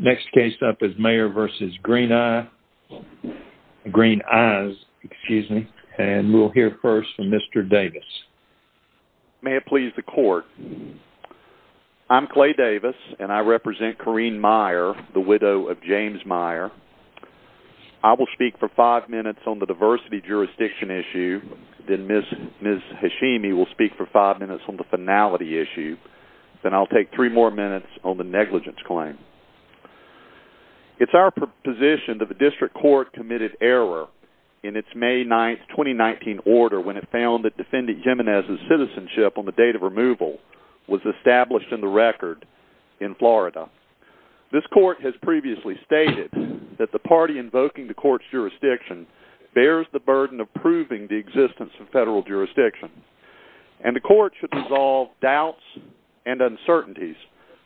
Next case up is Maier v. Green Eyes, and we'll hear first from Mr. Davis. May it please the court, I'm Clay Davis and I represent Karine Maier, the widow of James Maier. I will speak for five minutes on the diversity jurisdiction issue, then Ms. Hashimi will speak for five minutes on the finality issue, then I'll take three more minutes on the negligence claim. It's our position that the district court committed error in its May 9th, 2019 order when it found that Defendant Jimenez's citizenship on the date of removal was established in the record in Florida. This court has previously stated that the party invoking the court's jurisdiction bears the burden of proving the existence of federal jurisdiction, and the court should resolve doubts and uncertainties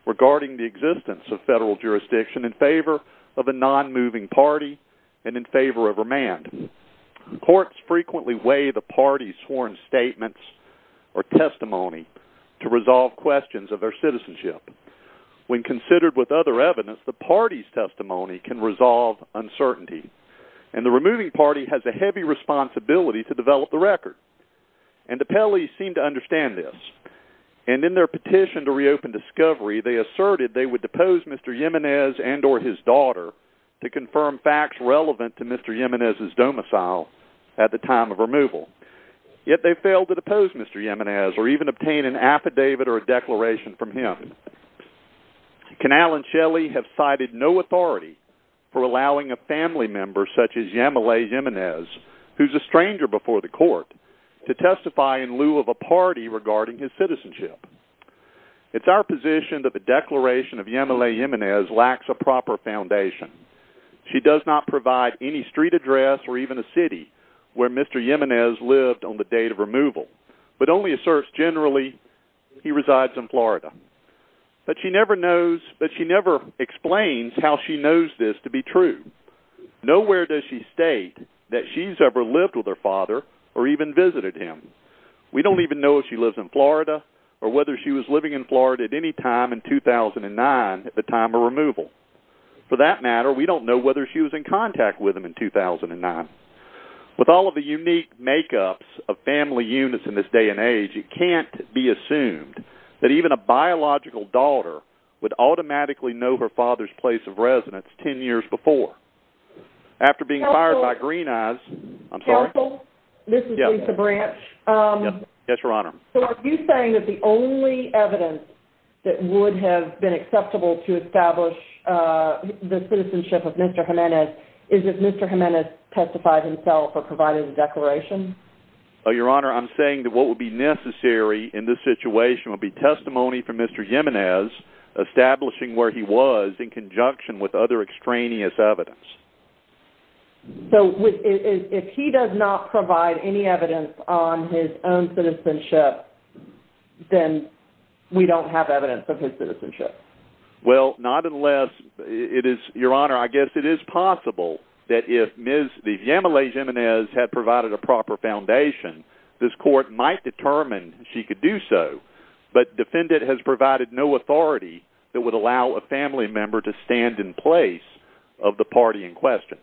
regarding the existence of federal jurisdiction in favor of a non-moving party and in favor of remand. Courts frequently weigh the party's sworn statements or testimony to resolve questions of their citizenship. When considered with other evidence, the party's testimony can resolve uncertainty, and the removing party has a heavy responsibility to develop the record. And the Pelley's seem to understand this, and in their petition to reopen Discovery, they asserted they would depose Mr. Jimenez and or his daughter to confirm facts relevant to Mr. Jimenez's domicile at the time of removal. Yet they failed to depose Mr. Jimenez or even obtain an affidavit or a declaration from him. Canal and Shelley have cited no authority for allowing a family member such as Yamilay Jimenez, who's a stranger before the court, to testify in lieu of a party regarding his citizenship. It's our position that the declaration of Yamilay Jimenez lacks a proper foundation. She does not provide any street address or even a city where Mr. Jimenez lived on the date of removal, but only asserts generally he resides in Florida. But she never knows, but she never explains how she knows this to be true. Nowhere does she state that she's ever lived with her father or even visited him. We don't even know if she lives in Florida or whether she was living in Florida at any time in 2009 at the time of removal. For that matter, we don't know whether she was in contact with him in 2009. With all of the unique makeups of family units in this day and age, it can't be assumed that even a biological daughter would automatically know her father's place of residence ten years before. After being fired by Greeneyes, I'm sorry? Counsel, this is Lisa Branch. Yes, Your Honor. So are you saying that the only evidence that would have been acceptable to establish the citizenship of Mr. Jimenez is if Mr. Jimenez testified himself or provided a declaration? Your Honor, I'm saying that what would be necessary in this situation would be testimony from Mr. Jimenez establishing where he was in conjunction with other extraneous evidence. So if he does not provide any evidence on his own citizenship, then we don't have evidence of his citizenship? Well, not unless it is, Your Honor, I guess it is possible that if Ms. Viemele Jimenez had provided a proper foundation, this court might determine she could do so. But defendant has provided no authority that would allow a family member to stand in place of the party in question.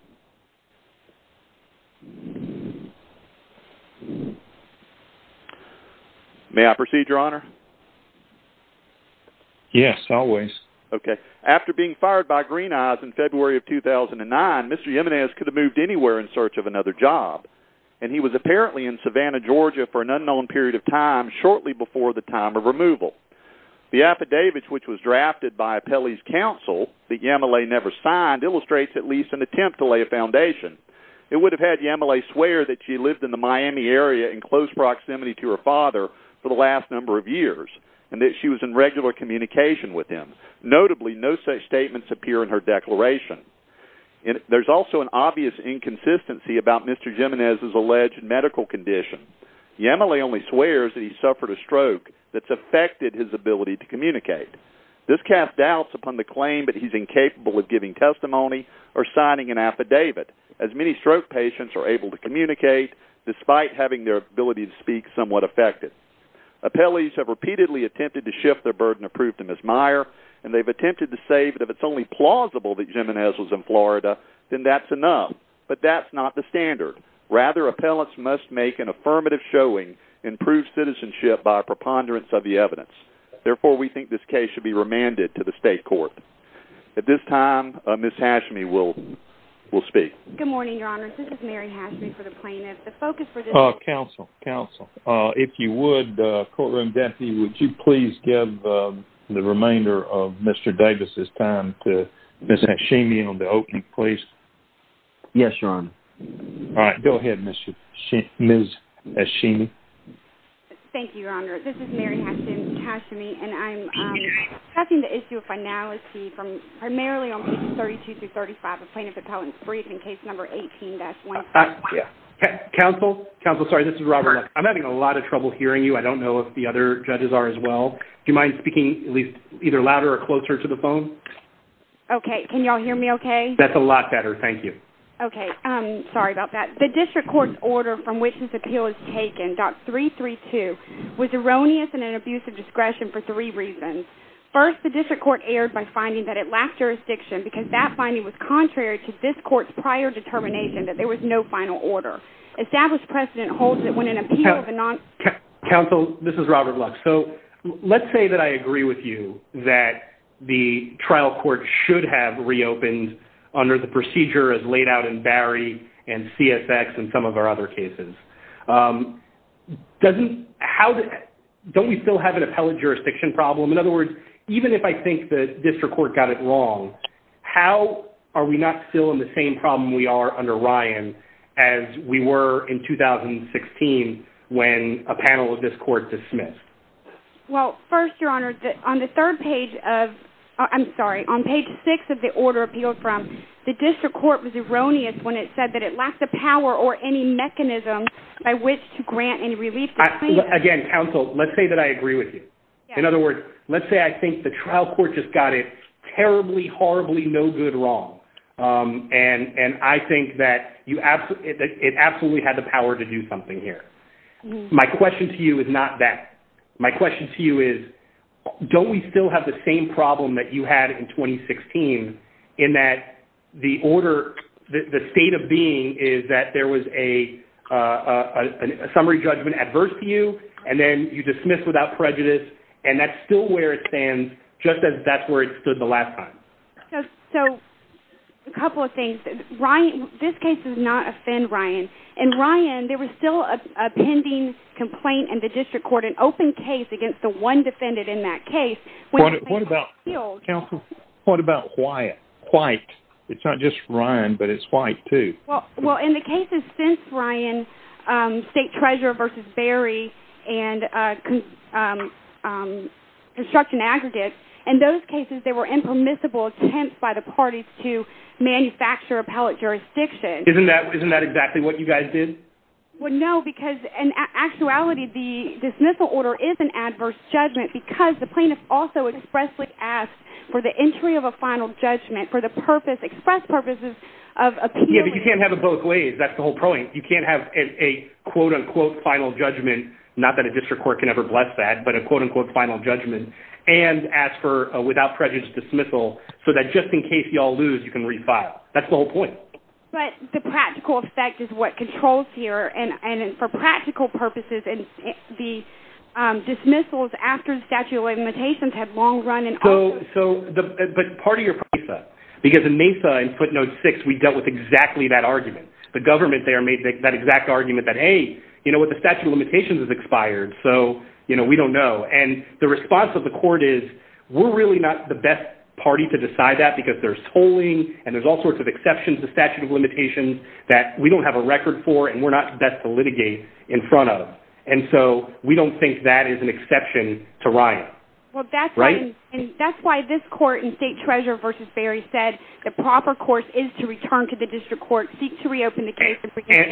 May I proceed, Your Honor? Yes, always. Okay. After being fired by Greeneyes in February of 2009, Mr. Jimenez could have moved anywhere in search of another job, and he was apparently in Savannah, Georgia for an unknown period of time shortly before the time of removal. The affidavit which was drafted by Pele's counsel that Viemele never signed illustrates at least an attempt to lay a foundation. It would have had Viemele swear that she lived in the Miami area in close proximity to her father for the last number of years, and that she was in regular communication with him. Notably, no such statements appear in her declaration. There's also an obvious inconsistency about Mr. Jimenez's alleged medical condition. Viemele only swears that he suffered a stroke that's affected his ability to communicate. This casts doubts upon the claim that he's incapable of giving testimony or signing an affidavit, as many stroke patients are able to communicate despite having their ability to speak somewhat affected. Appellees have repeatedly attempted to shift their burden of proof to Ms. Meyer, and they've attempted to say that if it's only plausible that Jimenez was in Florida, then that's enough. But that's not the standard. Rather, appellants must make an affirmative showing and prove citizenship by a preponderance of the evidence. Therefore, we think this case should be remanded to the state court. At this time, Ms. Hashmi will speak. Good morning, Your Honor. This is Mary Hashmi for the plaintiff. The focus for this case... Counsel, counsel, if you would, courtroom deputy, would you please give the remainder of Mr. Davis' time to Ms. Hashmi on the opening please? Yes, Your Honor. All right, go ahead, Ms. Hashmi. Thank you, Your Honor. This is Mary Hashmi, and I'm passing the issue of finality from primarily on page 32-35 of Plaintiff Appellant's brief in case number 18-1. Counsel, counsel, sorry. This is Robert. I'm having a lot of trouble hearing you. I don't know if the other judges are as well. Do you mind speaking at least either louder or closer to the phone? Okay. Can you all hear me okay? That's a lot better. Thank you. Okay. Sorry about that. The district court's order from which this appeal is taken, Doctrine 332, was erroneous and an abuse of discretion for three reasons. First, the district court erred by finding that it lacked jurisdiction because that finding was contrary to this court's prior determination that there was no final order. Established precedent holds that when an appeal of a non... Counsel, this is Robert Lux. So let's say that I agree with you that the trial court should have reopened under the procedure as laid out in Barry and CSX and some of our other cases. Don't we still have an appellate jurisdiction problem? In other words, even if I think the district court got it wrong, how are we not still in the same problem we are under Ryan as we were in 2016 when a panel of this court dismissed? Well, first, Your Honor, on the third page of... I'm sorry. On page six of the order appealed from, the district court was erroneous when it said that it lacked the power or any mechanism by which to grant any relief... Again, counsel, let's say that I agree with you. In other words, let's say I think the trial court just got it terribly, horribly, no good wrong, and I think that it absolutely had the power to do something here. My question to you is not that. My question to you is don't we still have the same problem that you had in 2016 in that the order, the state of being is that there was a summary judgment adverse to you, and then you dismiss without prejudice, and that's still where it stands just as that's where it stood the last time. So a couple of things. This case does not offend Ryan. In Ryan, there was still a pending complaint in the district court, an open case against the one defendant in that case. What about... Counsel... What about White? It's not just Ryan, but it's White, too. Well, in the cases since Ryan, state treasurer versus Berry and construction aggregates, in those cases, there were impermissible attempts by the parties to manufacture appellate jurisdiction. Isn't that exactly what you guys did? Well, no, because in actuality, the dismissal order is an adverse judgment because the plaintiff also expressly asked for the entry of a final judgment for the purpose, express purposes of appealing... Yeah, but you can't have it both ways. That's the whole point. You can't have a quote-unquote final judgment, not that a district court can ever bless that, but a quote-unquote final judgment, and ask for a without prejudice dismissal so that just in case you all lose, you can refile. That's the whole point. But the practical effect is what controls here, and for practical purposes, the dismissals after the statute of limitations have long run in... So, but part of your... Because in Mesa, in footnote six, we dealt with exactly that argument. The government there made that exact argument that, hey, you know what, the statute of limitations has expired, so, you know, we don't know. And the response of the court is, we're really not the best party to decide that because there's tolling, and there's all sorts of exceptions to statute of limitations that we don't have a record for, and we're not the best to litigate in front of. And so, we don't think that is an exception to riot. Well, that's why... Right? And that's why this court in State Treasurer v. Berry said the proper course is to return to the district court, seek to reopen the case...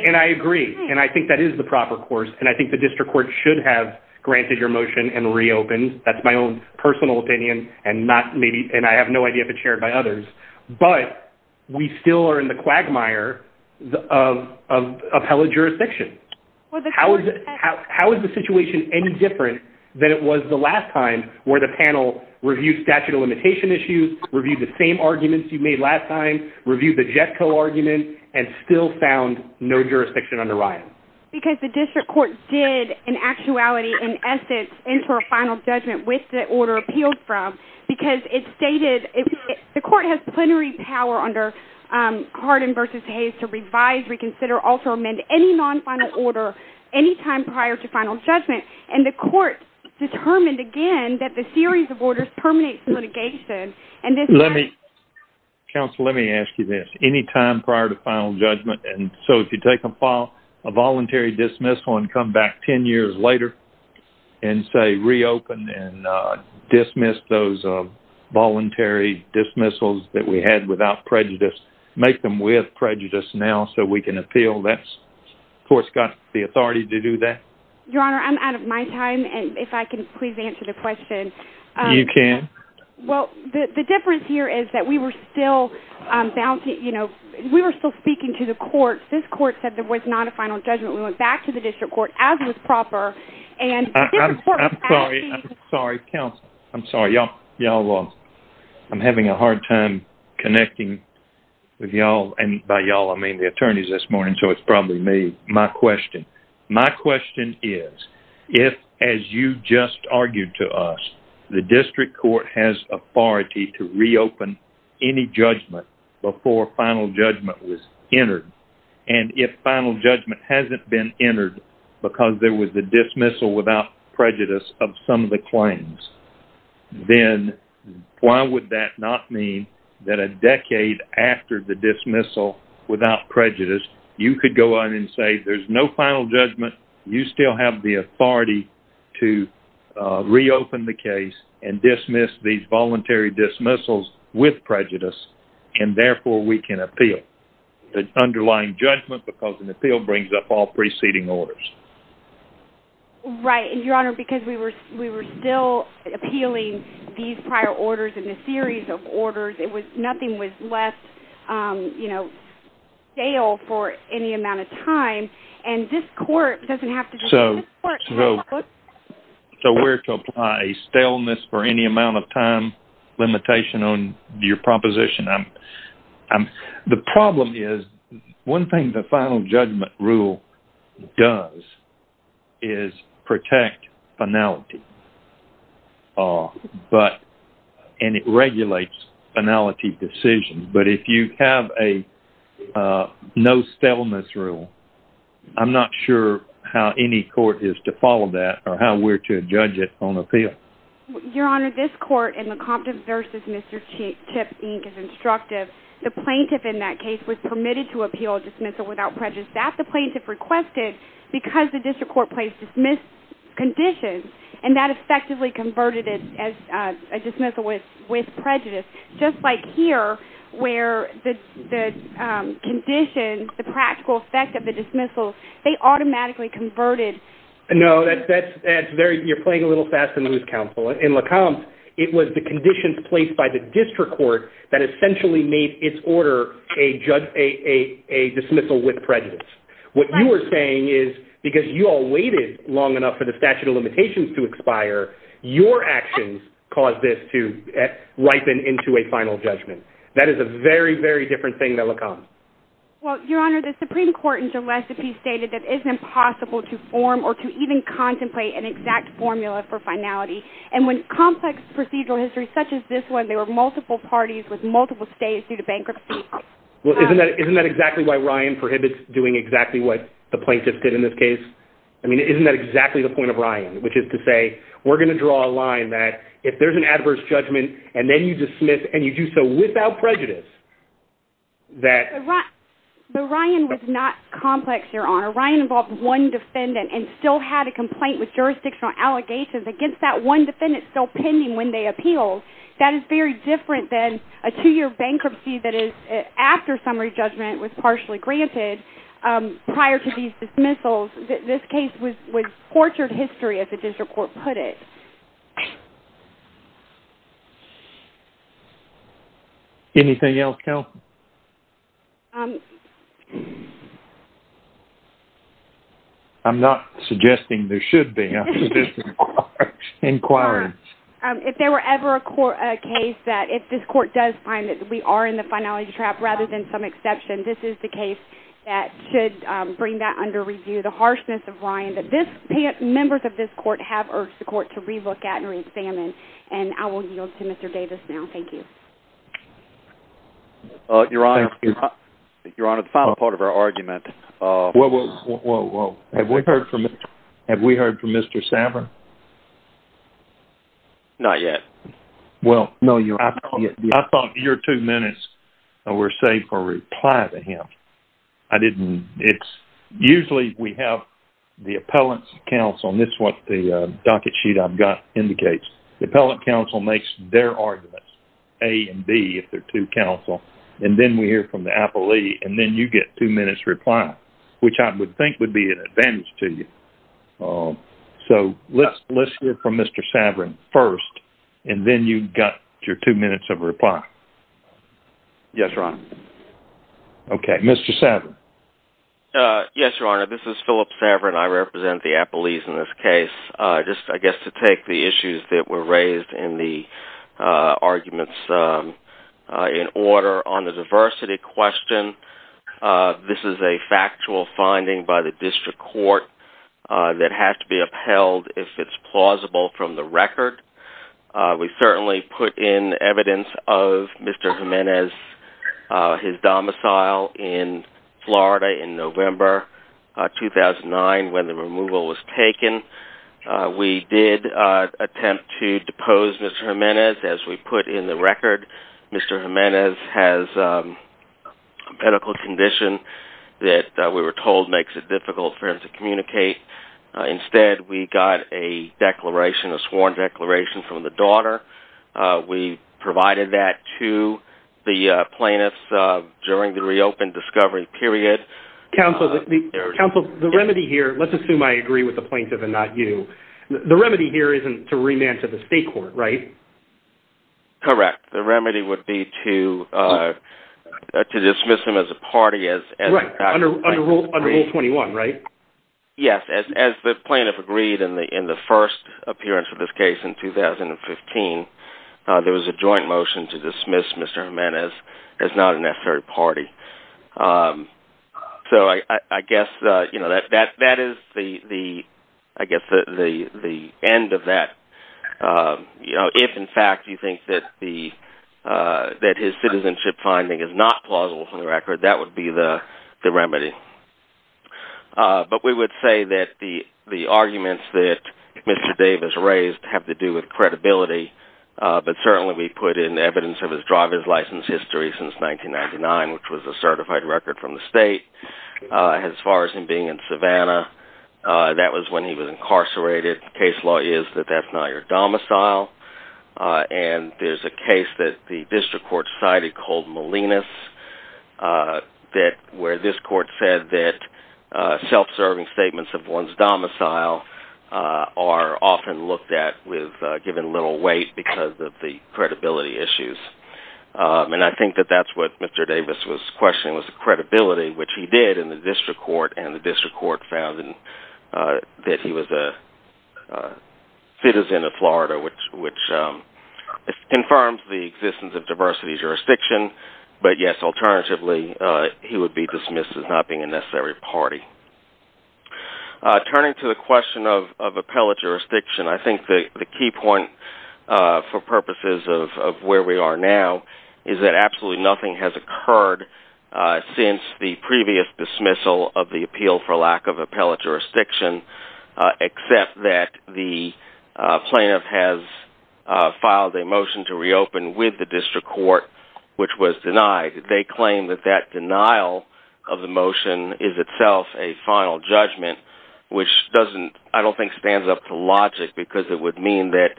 And I agree, and I think that is the proper course, and I think the district court should have granted your motion and reopened. That's my own personal opinion, and not maybe... And I have no idea if it's shared by others. But we still are in the quagmire of appellate jurisdiction. How is the situation any different than it was the last time where the panel reviewed statute of limitation issues, reviewed the same arguments you made last time, reviewed the JETCO argument, and still found no jurisdiction under riot? Because the district court did, in actuality, in essence, enter a final judgment with the order appealed from, because it stated... The court has plenary power under Hardin v. Hayes to revise, reconsider, also amend any non-final order any time prior to final judgment, and the court determined, again, that the series of orders terminates litigation, and this... Let me... Counsel, let me ask you this. ...any time prior to final judgment, and so if you take a voluntary dismissal and come back 10 years later and, say, reopen and dismiss those voluntary dismissals that we had without prejudice, make them with prejudice now so we can appeal, that's... The court's got the authority to do that? Your Honor, I'm out of my time, and if I can please answer the question. You can. Well, the difference here is that we were still bouncing... You know, we were still speaking to the court. This court said there was not a final judgment. We went back to the district court, as was proper, and the district court... I'm sorry. I'm sorry. Counsel, I'm sorry. Y'all, I'm having a hard time connecting with y'all, and by y'all, I mean the attorneys this morning, so it's probably me. My question. My question is, if, as you just argued to us, the district court has authority to reopen any judgment before final judgment was entered, and if final judgment hasn't been entered because there was a dismissal without prejudice of some of the claims, then why would that not mean that a decade after the dismissal without prejudice, you could go on and say there's no final judgment. You still have the authority to reopen the case and dismiss these voluntary dismissals with prejudice, and therefore, we can appeal the underlying judgment because an appeal brings up all preceding orders. Right. And, Your Honor, because we were still appealing these prior orders and a series of orders, it was nothing was left, you know, stale for any amount of time, and this court doesn't have to... So where to apply a staleness for any amount of time limitation on your proposition? The problem is one thing the final judgment rule does is protect finality, and it regulates finality decisions, but if you have a no staleness rule, I'm not sure how any court is to follow that or how we're to judge it on appeal. Your Honor, this court in the Compton v. Mr. Chipp, Inc., is instructive. The plaintiff in that case was permitted to appeal a dismissal without prejudice that the plaintiff requested because the district court placed dismissed conditions, and that where the conditions, the practical effect of the dismissal, they automatically converted... No, that's very... You're playing a little fast and loose, Counsel. In LeComte, it was the conditions placed by the district court that essentially made its order a dismissal with prejudice. What you are saying is because you all waited long enough for the statute of limitations to expire, your actions caused this to ripen into a final judgment. That is a very, very different thing than LeComte. Well, Your Honor, the Supreme Court in Gillespie stated that it is impossible to form or to even contemplate an exact formula for finality, and with complex procedural histories such as this one, there were multiple parties with multiple states due to bankruptcy. Isn't that exactly why Ryan prohibits doing exactly what the plaintiff did in this case? I mean, isn't that exactly the point of Ryan, which is to say, we're going to draw a line that if there's an adverse judgment, and then you dismiss, and you do so without prejudice, that... But Ryan was not complex, Your Honor. Ryan involved one defendant and still had a complaint with jurisdictional allegations against that one defendant still pending when they appealed. That is very different than a two-year bankruptcy that is after summary judgment was partially granted prior to these dismissals. This case was tortured history, as the district court put it. Anything else, Kelsey? I'm not suggesting there should be. I'm just inquiring. If there were ever a case that if this court does find that we are in the finality trap rather than some exception, this is the case that should bring that under review. The harshness of Ryan that this... Members of this court have urged the court to re-look at and re-examine, and I will yield to Mr. Davis now. Thank you. Your Honor, the final part of our argument... Whoa, whoa, whoa, whoa. Have we heard from Mr. Saver? Not yet. Well, no, Your Honor. I thought your two minutes were saved for a reply to him. I didn't... It's... Usually, we have the appellant's counsel, and this is what the docket sheet I've got indicates. The appellant counsel makes their arguments, A and B, if they're two counsel, and then we hear from the appellee, and then you get two minutes' reply, which I would think would be an advantage to you. So let's hear from Mr. Saver first, and then you've got your two minutes of reply. Yes, Your Honor. Okay, Mr. Saver. Yes, Your Honor, this is Philip Saver, and I represent the appellees in this case. Just, I guess, to take the issues that were raised in the arguments in order. On the diversity question, this is a factual finding by the district court that has to be upheld if it's plausible from the record. We certainly put in evidence of Mr. Jimenez, his domicile in Florida in November 2009 when the removal was taken. We did attempt to depose Mr. Jimenez, as we put in the record. Mr. Jimenez has a medical condition that, we were told, makes it difficult for him to communicate. Instead, we got a declaration, a sworn declaration from the daughter. We provided that to the plaintiffs during the reopened discovery period. Counsel, the remedy here, let's assume I agree with the plaintiff and not you, the remedy here isn't to remand to the state court, right? Correct. The remedy would be to dismiss him as a party. Right, under Rule 21, right? Yes, as the plaintiff agreed in the first appearance of this case in 2015, there was a joint motion to dismiss Mr. Jimenez as not a necessary party. So I guess that is the end of that. If, in fact, you think that his citizenship finding is not plausible from the record, that would be the remedy. But we would say that the arguments that Mr. Davis raised have to do with credibility, but certainly we put in evidence of his driver's license history since 1999, which was a certified record from the state. As far as him being in Savannah, that was when he was incarcerated. Case law is that that's not your domicile. And there's a case that the district court cited called Molinas, where this court said that self-serving statements of one's domicile are often looked at with given little weight because of the credibility issues. And I think that that's what Mr. Davis was questioning was the credibility, which he did in the district court, and the district court found that he was a citizen of Florida, which confirms the existence of diversity jurisdiction. But yes, alternatively, he would be dismissed as not being a necessary party. Turning to the question of appellate jurisdiction, I think the key point, for purposes of where we are now, is that absolutely nothing has occurred since the previous dismissal of the appeal for lack of appellate jurisdiction, except that the plaintiff has filed a motion to reopen with the district court, which was denied. They claim that that denial of the motion is itself a final judgment, which I don't think stands up to logic, because it would mean that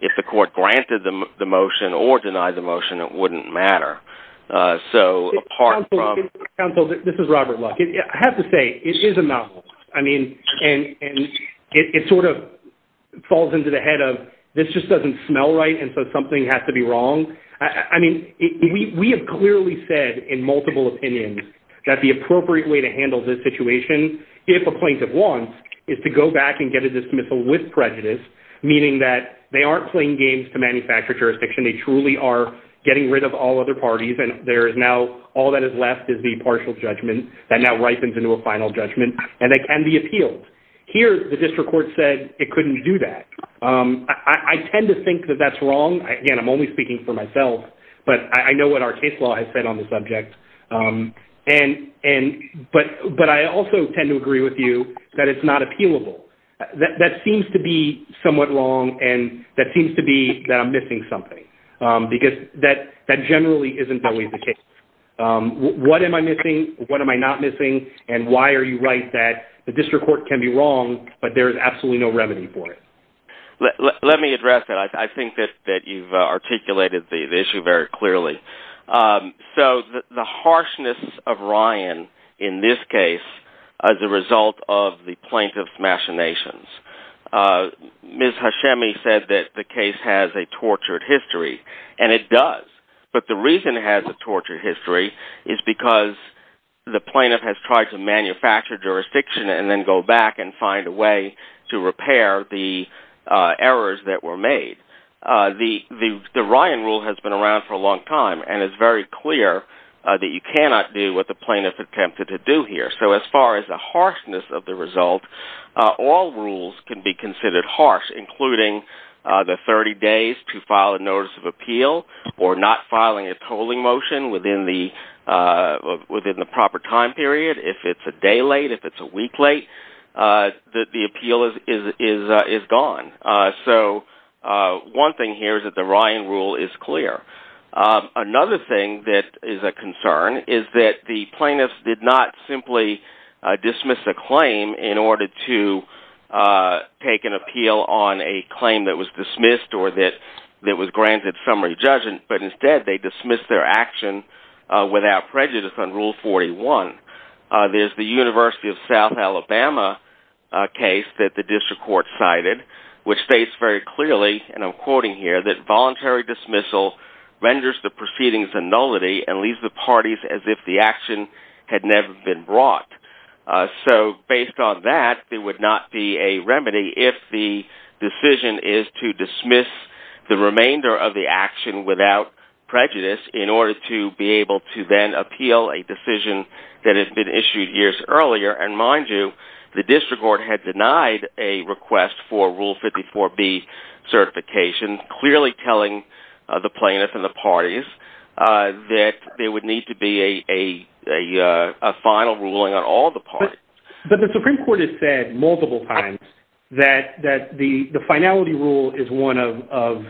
if the court granted the motion or denied the motion, it wouldn't matter. This is Robert Luck. I have to say, it is a mouthful. And it sort of falls into the head of, this just doesn't smell right, and so something has to be wrong. We have clearly said in multiple opinions that the appropriate way to handle this situation, if a plaintiff wants, is to go back and get a dismissal with prejudice, meaning that they aren't playing games to manufacture jurisdiction. They truly are getting rid of all other parties, and all that is left is the partial judgment that now ripens into a final judgment, and the appeals. Here, the district court said it couldn't do that. I tend to think that that's wrong. Again, I'm only speaking for myself, but I know what our case law has said on the subject. But I also tend to agree with you that it's not appealable. That seems to be somewhat wrong, and that seems to be that I'm missing something, because that generally isn't always the case. What am I missing? What am I not missing? And why are you right that the district court can be wrong, but there is absolutely no remedy for it? Let me address that. I think that you've articulated the issue very clearly. So the harshness of Ryan in this case is the result of the plaintiff's machinations. Ms. Hashemi said that the case has a tortured history, and it does. But the reason it has a tortured history is because the plaintiff has tried to manufacture jurisdiction, and then go back and find a way to repair the errors that were made. The Ryan rule has been around for a long time, and it's very clear that you cannot do what the plaintiff attempted to do here. So as far as the harshness of the result, all rules can be considered harsh, including the 30 days to file a notice of appeal or not filing a tolling motion within the proper time period. If it's a day late, if it's a week late, the appeal is gone. So one thing here is that the Ryan rule is clear. Another thing that is a concern is that the plaintiff did not simply dismiss a claim in order to take an appeal on a claim that was dismissed or that was granted summary judgment, but instead they dismissed their action without prejudice on Rule 41. There's the University of South Alabama case that the district court cited which states very clearly, and I'm quoting here, that voluntary dismissal renders the proceedings a nullity and leaves the parties as if the action had never been brought. So based on that, it would not be a remedy if the decision is to dismiss the remainder of the action without prejudice in order to be able to then appeal a decision that had been issued years earlier. And mind you, the district court had denied a request for Rule 54B certification, clearly telling the plaintiff and the parties that there would need to be a final ruling on all the parties. But the Supreme Court has said multiple times that the finality rule is one of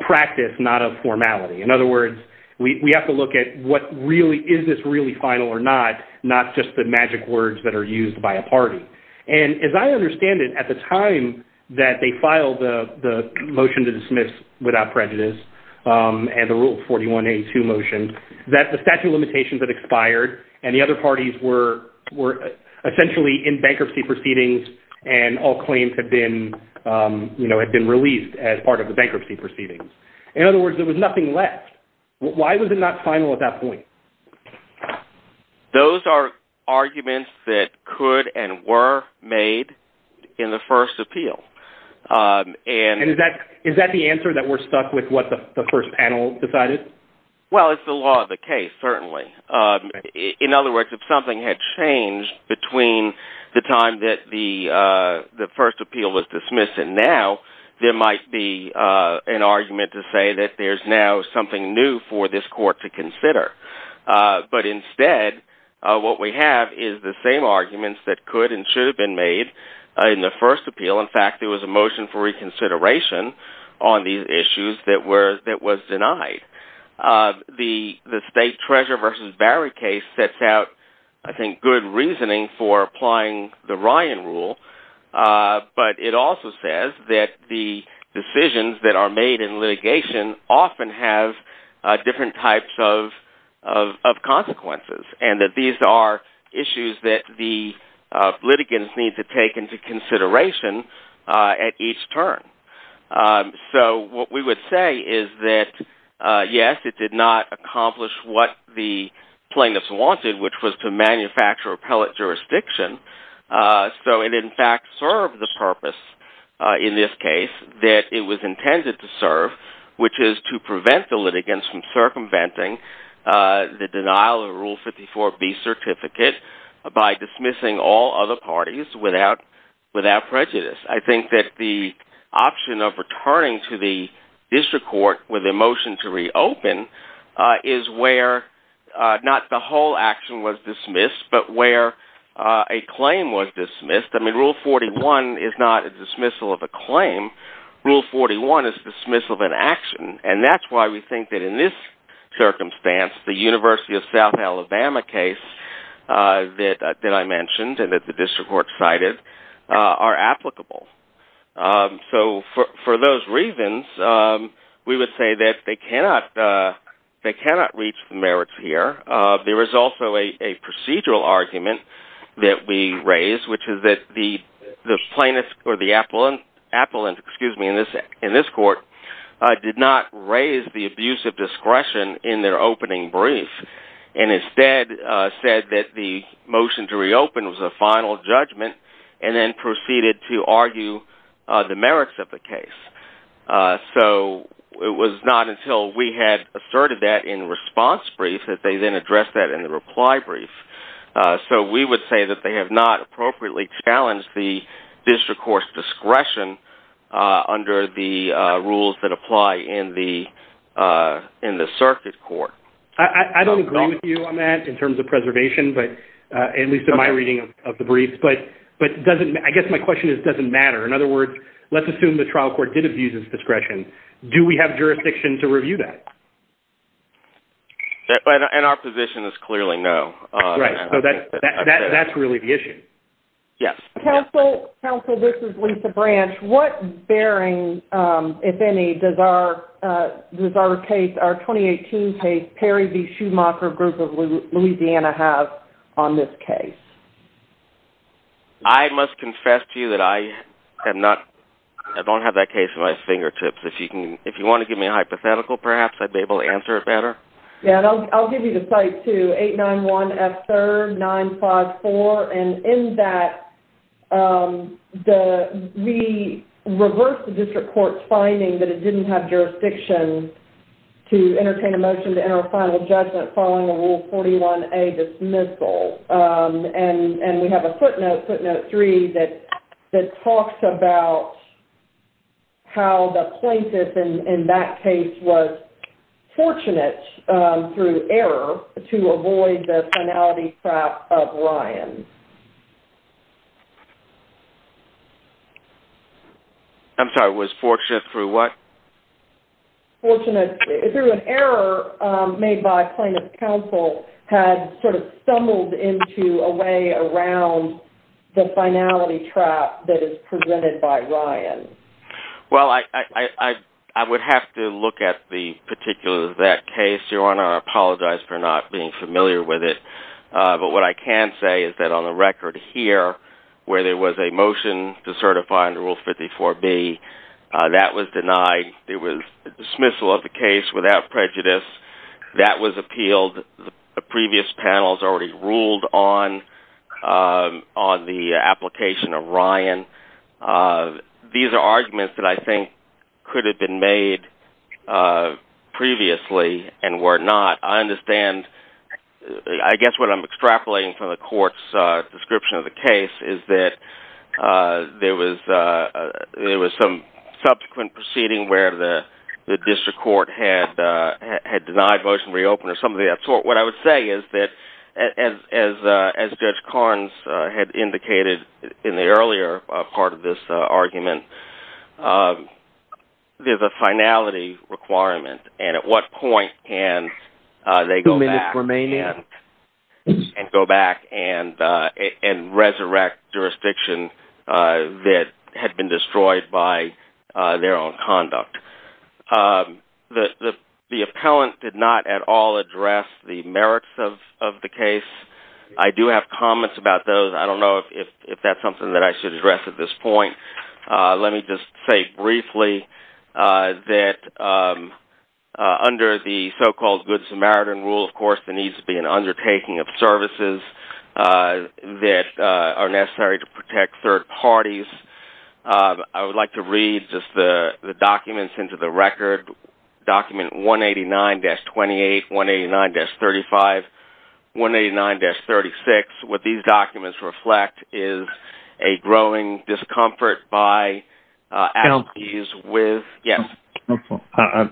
practice, not of formality. In other words, we have to look at what really is this really final or not, not just the magic words that are used by a party. And as I understand it, at the time that they filed the motion to dismiss without prejudice and the Rule 41A2 motion, the statute of limitations had expired and the other parties were essentially in bankruptcy proceedings and all claims had been released as part of the bankruptcy proceedings. In other words, there was nothing left. Why was it not final at that point? Those are arguments that could and were made in the first appeal. And is that the answer, that we're stuck with what the first panel decided? Well, it's the law of the case, certainly. In other words, if something had changed between the time that the first appeal was dismissed and now, there might be an argument to say that there's now something new for this court to consider. But instead, what we have is the same arguments that could and should have been made in the first appeal. In fact, there was a motion for reconsideration on these issues that was denied. The State Treasurer v. Barry case sets out, I think, good reasoning for applying the Ryan Rule, but it also says that the decisions that are made in litigation often have different types of consequences and that these are issues that the litigants need to take into consideration at each turn. So what we would say is that, yes, it did not accomplish what the plaintiffs wanted, which was to manufacture appellate jurisdiction. So it, in fact, served the purpose in this case that it was intended to serve, which is to prevent the litigants from circumventing the denial of Rule 54B certificate by dismissing all other parties without prejudice. I think that the option of returning to the district court with a motion to reopen is where not the whole action was dismissed, but where a claim was dismissed. I mean, Rule 41 is not a dismissal of a claim. Rule 41 is dismissal of an action, and that's why we think that in this circumstance, the University of South Alabama case that I mentioned and that the district court cited are applicable. So for those reasons, we would say that they cannot reach the merits here. There is also a procedural argument that we raised, which is that the plaintiff or the appellant in this court did not raise the abuse of discretion in their opening brief and instead said that the motion to reopen was a final judgment and then proceeded to argue the merits of the case. So it was not until we had asserted that in the response brief that they then addressed that in the reply brief. So we would say that they have not appropriately challenged the district court's discretion under the rules that apply in the circuit court. I don't agree with you on that in terms of preservation, at least in my reading of the brief, but I guess my question is, does it matter? In other words, let's assume the trial court did abuse its discretion. Do we have jurisdiction to review that? And our position is clearly no. Right, so that's really the issue. Yes. Counsel, this is Lisa Branch. What bearing, if any, does our case, our 2018 case, Perry v. Schumacher, Group of Louisiana, have on this case? I must confess to you that I don't have that case at my fingertips. If you want to give me a hypothetical, perhaps, I'd be able to answer it better. Yes, and I'll give you the site, too. 891F3R954, and in that, we reversed the district court's finding that it didn't have jurisdiction to entertain a motion to enter a final judgment following a Rule 41A dismissal. And we have a footnote, footnote 3, that talks about how the plaintiff in that case was fortunate through error to avoid the finality trap of Ryan. I'm sorry, was fortunate through what? Fortunate through an error made by plaintiff's counsel had sort of stumbled into a way around the finality trap that is presented by Ryan. Well, I would have to look at the particulars of that case, Your Honor. I apologize for not being familiar with it. But what I can say is that on the record here, where there was a motion to certify under Rule 54B, that was denied. It was dismissal of the case without prejudice. That was appealed. The previous panels already ruled on the application of Ryan. These are arguments that I think could have been made previously and were not. I understand, I guess what I'm extrapolating from the court's description of the case is that there was some subsequent proceeding where the district court had denied motion to reopen or something of that sort. What I would say is that, as Judge Carnes had indicated in the earlier part of this argument, there's a finality requirement. And at what point can they go back and resurrect jurisdiction that had been destroyed by their own conduct? The appellant did not at all address the merits of the case. I do have comments about those. I don't know if that's something that I should address at this point. Let me just say briefly that under the so-called Good Samaritan Rule, of course, there needs to be an undertaking of services that are necessary to protect third parties. I would like to read just the documents into the record, document 189-28, 189-35, 189-36. What these documents reflect is a growing discomfort by... Can I... Yes.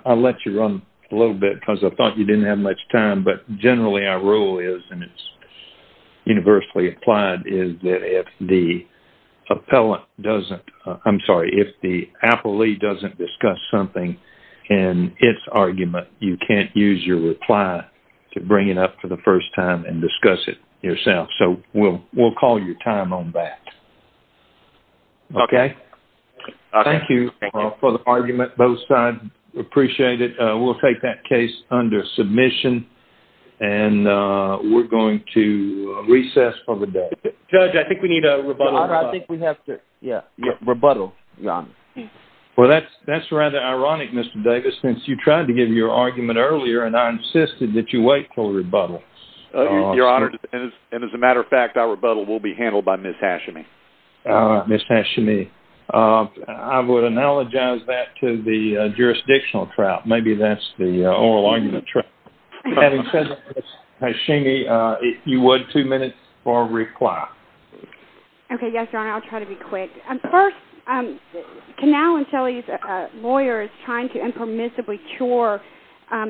I'll let you run a little bit because I thought you didn't have much time, but generally our rule is, and it's universally applied, is that if the appellant doesn't... I'm sorry, if the appellee doesn't discuss something in its argument, you can't use your reply to bring it up for the first time and discuss it yourself. So we'll call your time on that. Okay. Thank you for the argument both sides. Appreciate it. We'll take that case under submission, and we're going to recess for the day. Judge, I think we need a rebuttal. I think we have to, yeah, rebuttal. Well, that's rather ironic, Mr. Davis, since you tried to give your argument earlier and I insisted that you wait for a rebuttal. Your Honor, and as a matter of fact, our rebuttal will be handled by Ms. Hashimi. Ms. Hashimi, I would analogize that to the jurisdictional trout. Maybe that's the oral argument trout. Having said that, Ms. Hashimi, if you would, two minutes for reply. Okay, yes, Your Honor. I'll try to be quick. First, Canal and Shelley's lawyer is trying to impermissibly cure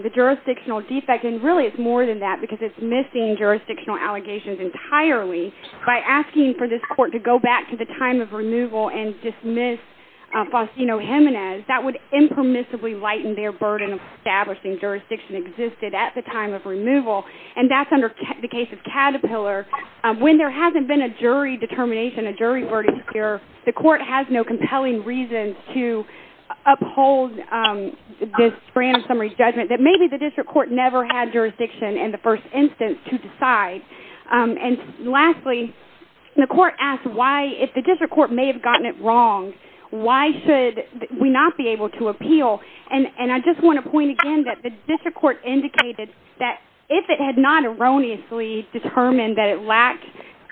the jurisdictional defect, and really it's more than that because it's missing jurisdictional allegations entirely. By asking for this court to go back to the time of removal and dismiss Faustino Jimenez, that would impermissibly lighten their burden of establishing jurisdiction existed at the time of removal, and that's under the case of Caterpillar. When there hasn't been a jury determination, a jury verdict here, the court has no compelling reason to uphold this grand summary judgment that maybe the district court never had jurisdiction in the first instance to decide. And lastly, the court asked why, if the district court may have gotten it wrong, why should we not be able to appeal? And I just want to point again that the district court indicated that if it had not erroneously determined that it lacked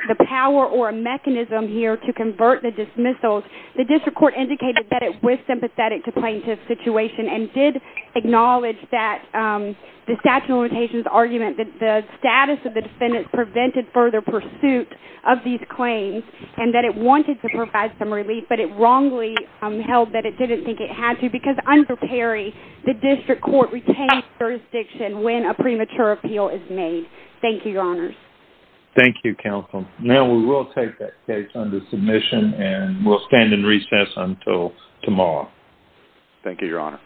the power or a mechanism here to convert the dismissals, the district court indicated that it was sympathetic to plaintiff's situation and did acknowledge that the statute of limitations argument that the status of the defendant prevented further pursuit of these claims and that it wanted to provide some relief, but it wrongly held that it didn't think it had to because under Perry, the district court retained jurisdiction when a premature appeal is made. Thank you, Your Honors. Thank you, Counsel. Now we will take that case under submission and we'll stand in recess until tomorrow. Thank you, Your Honor.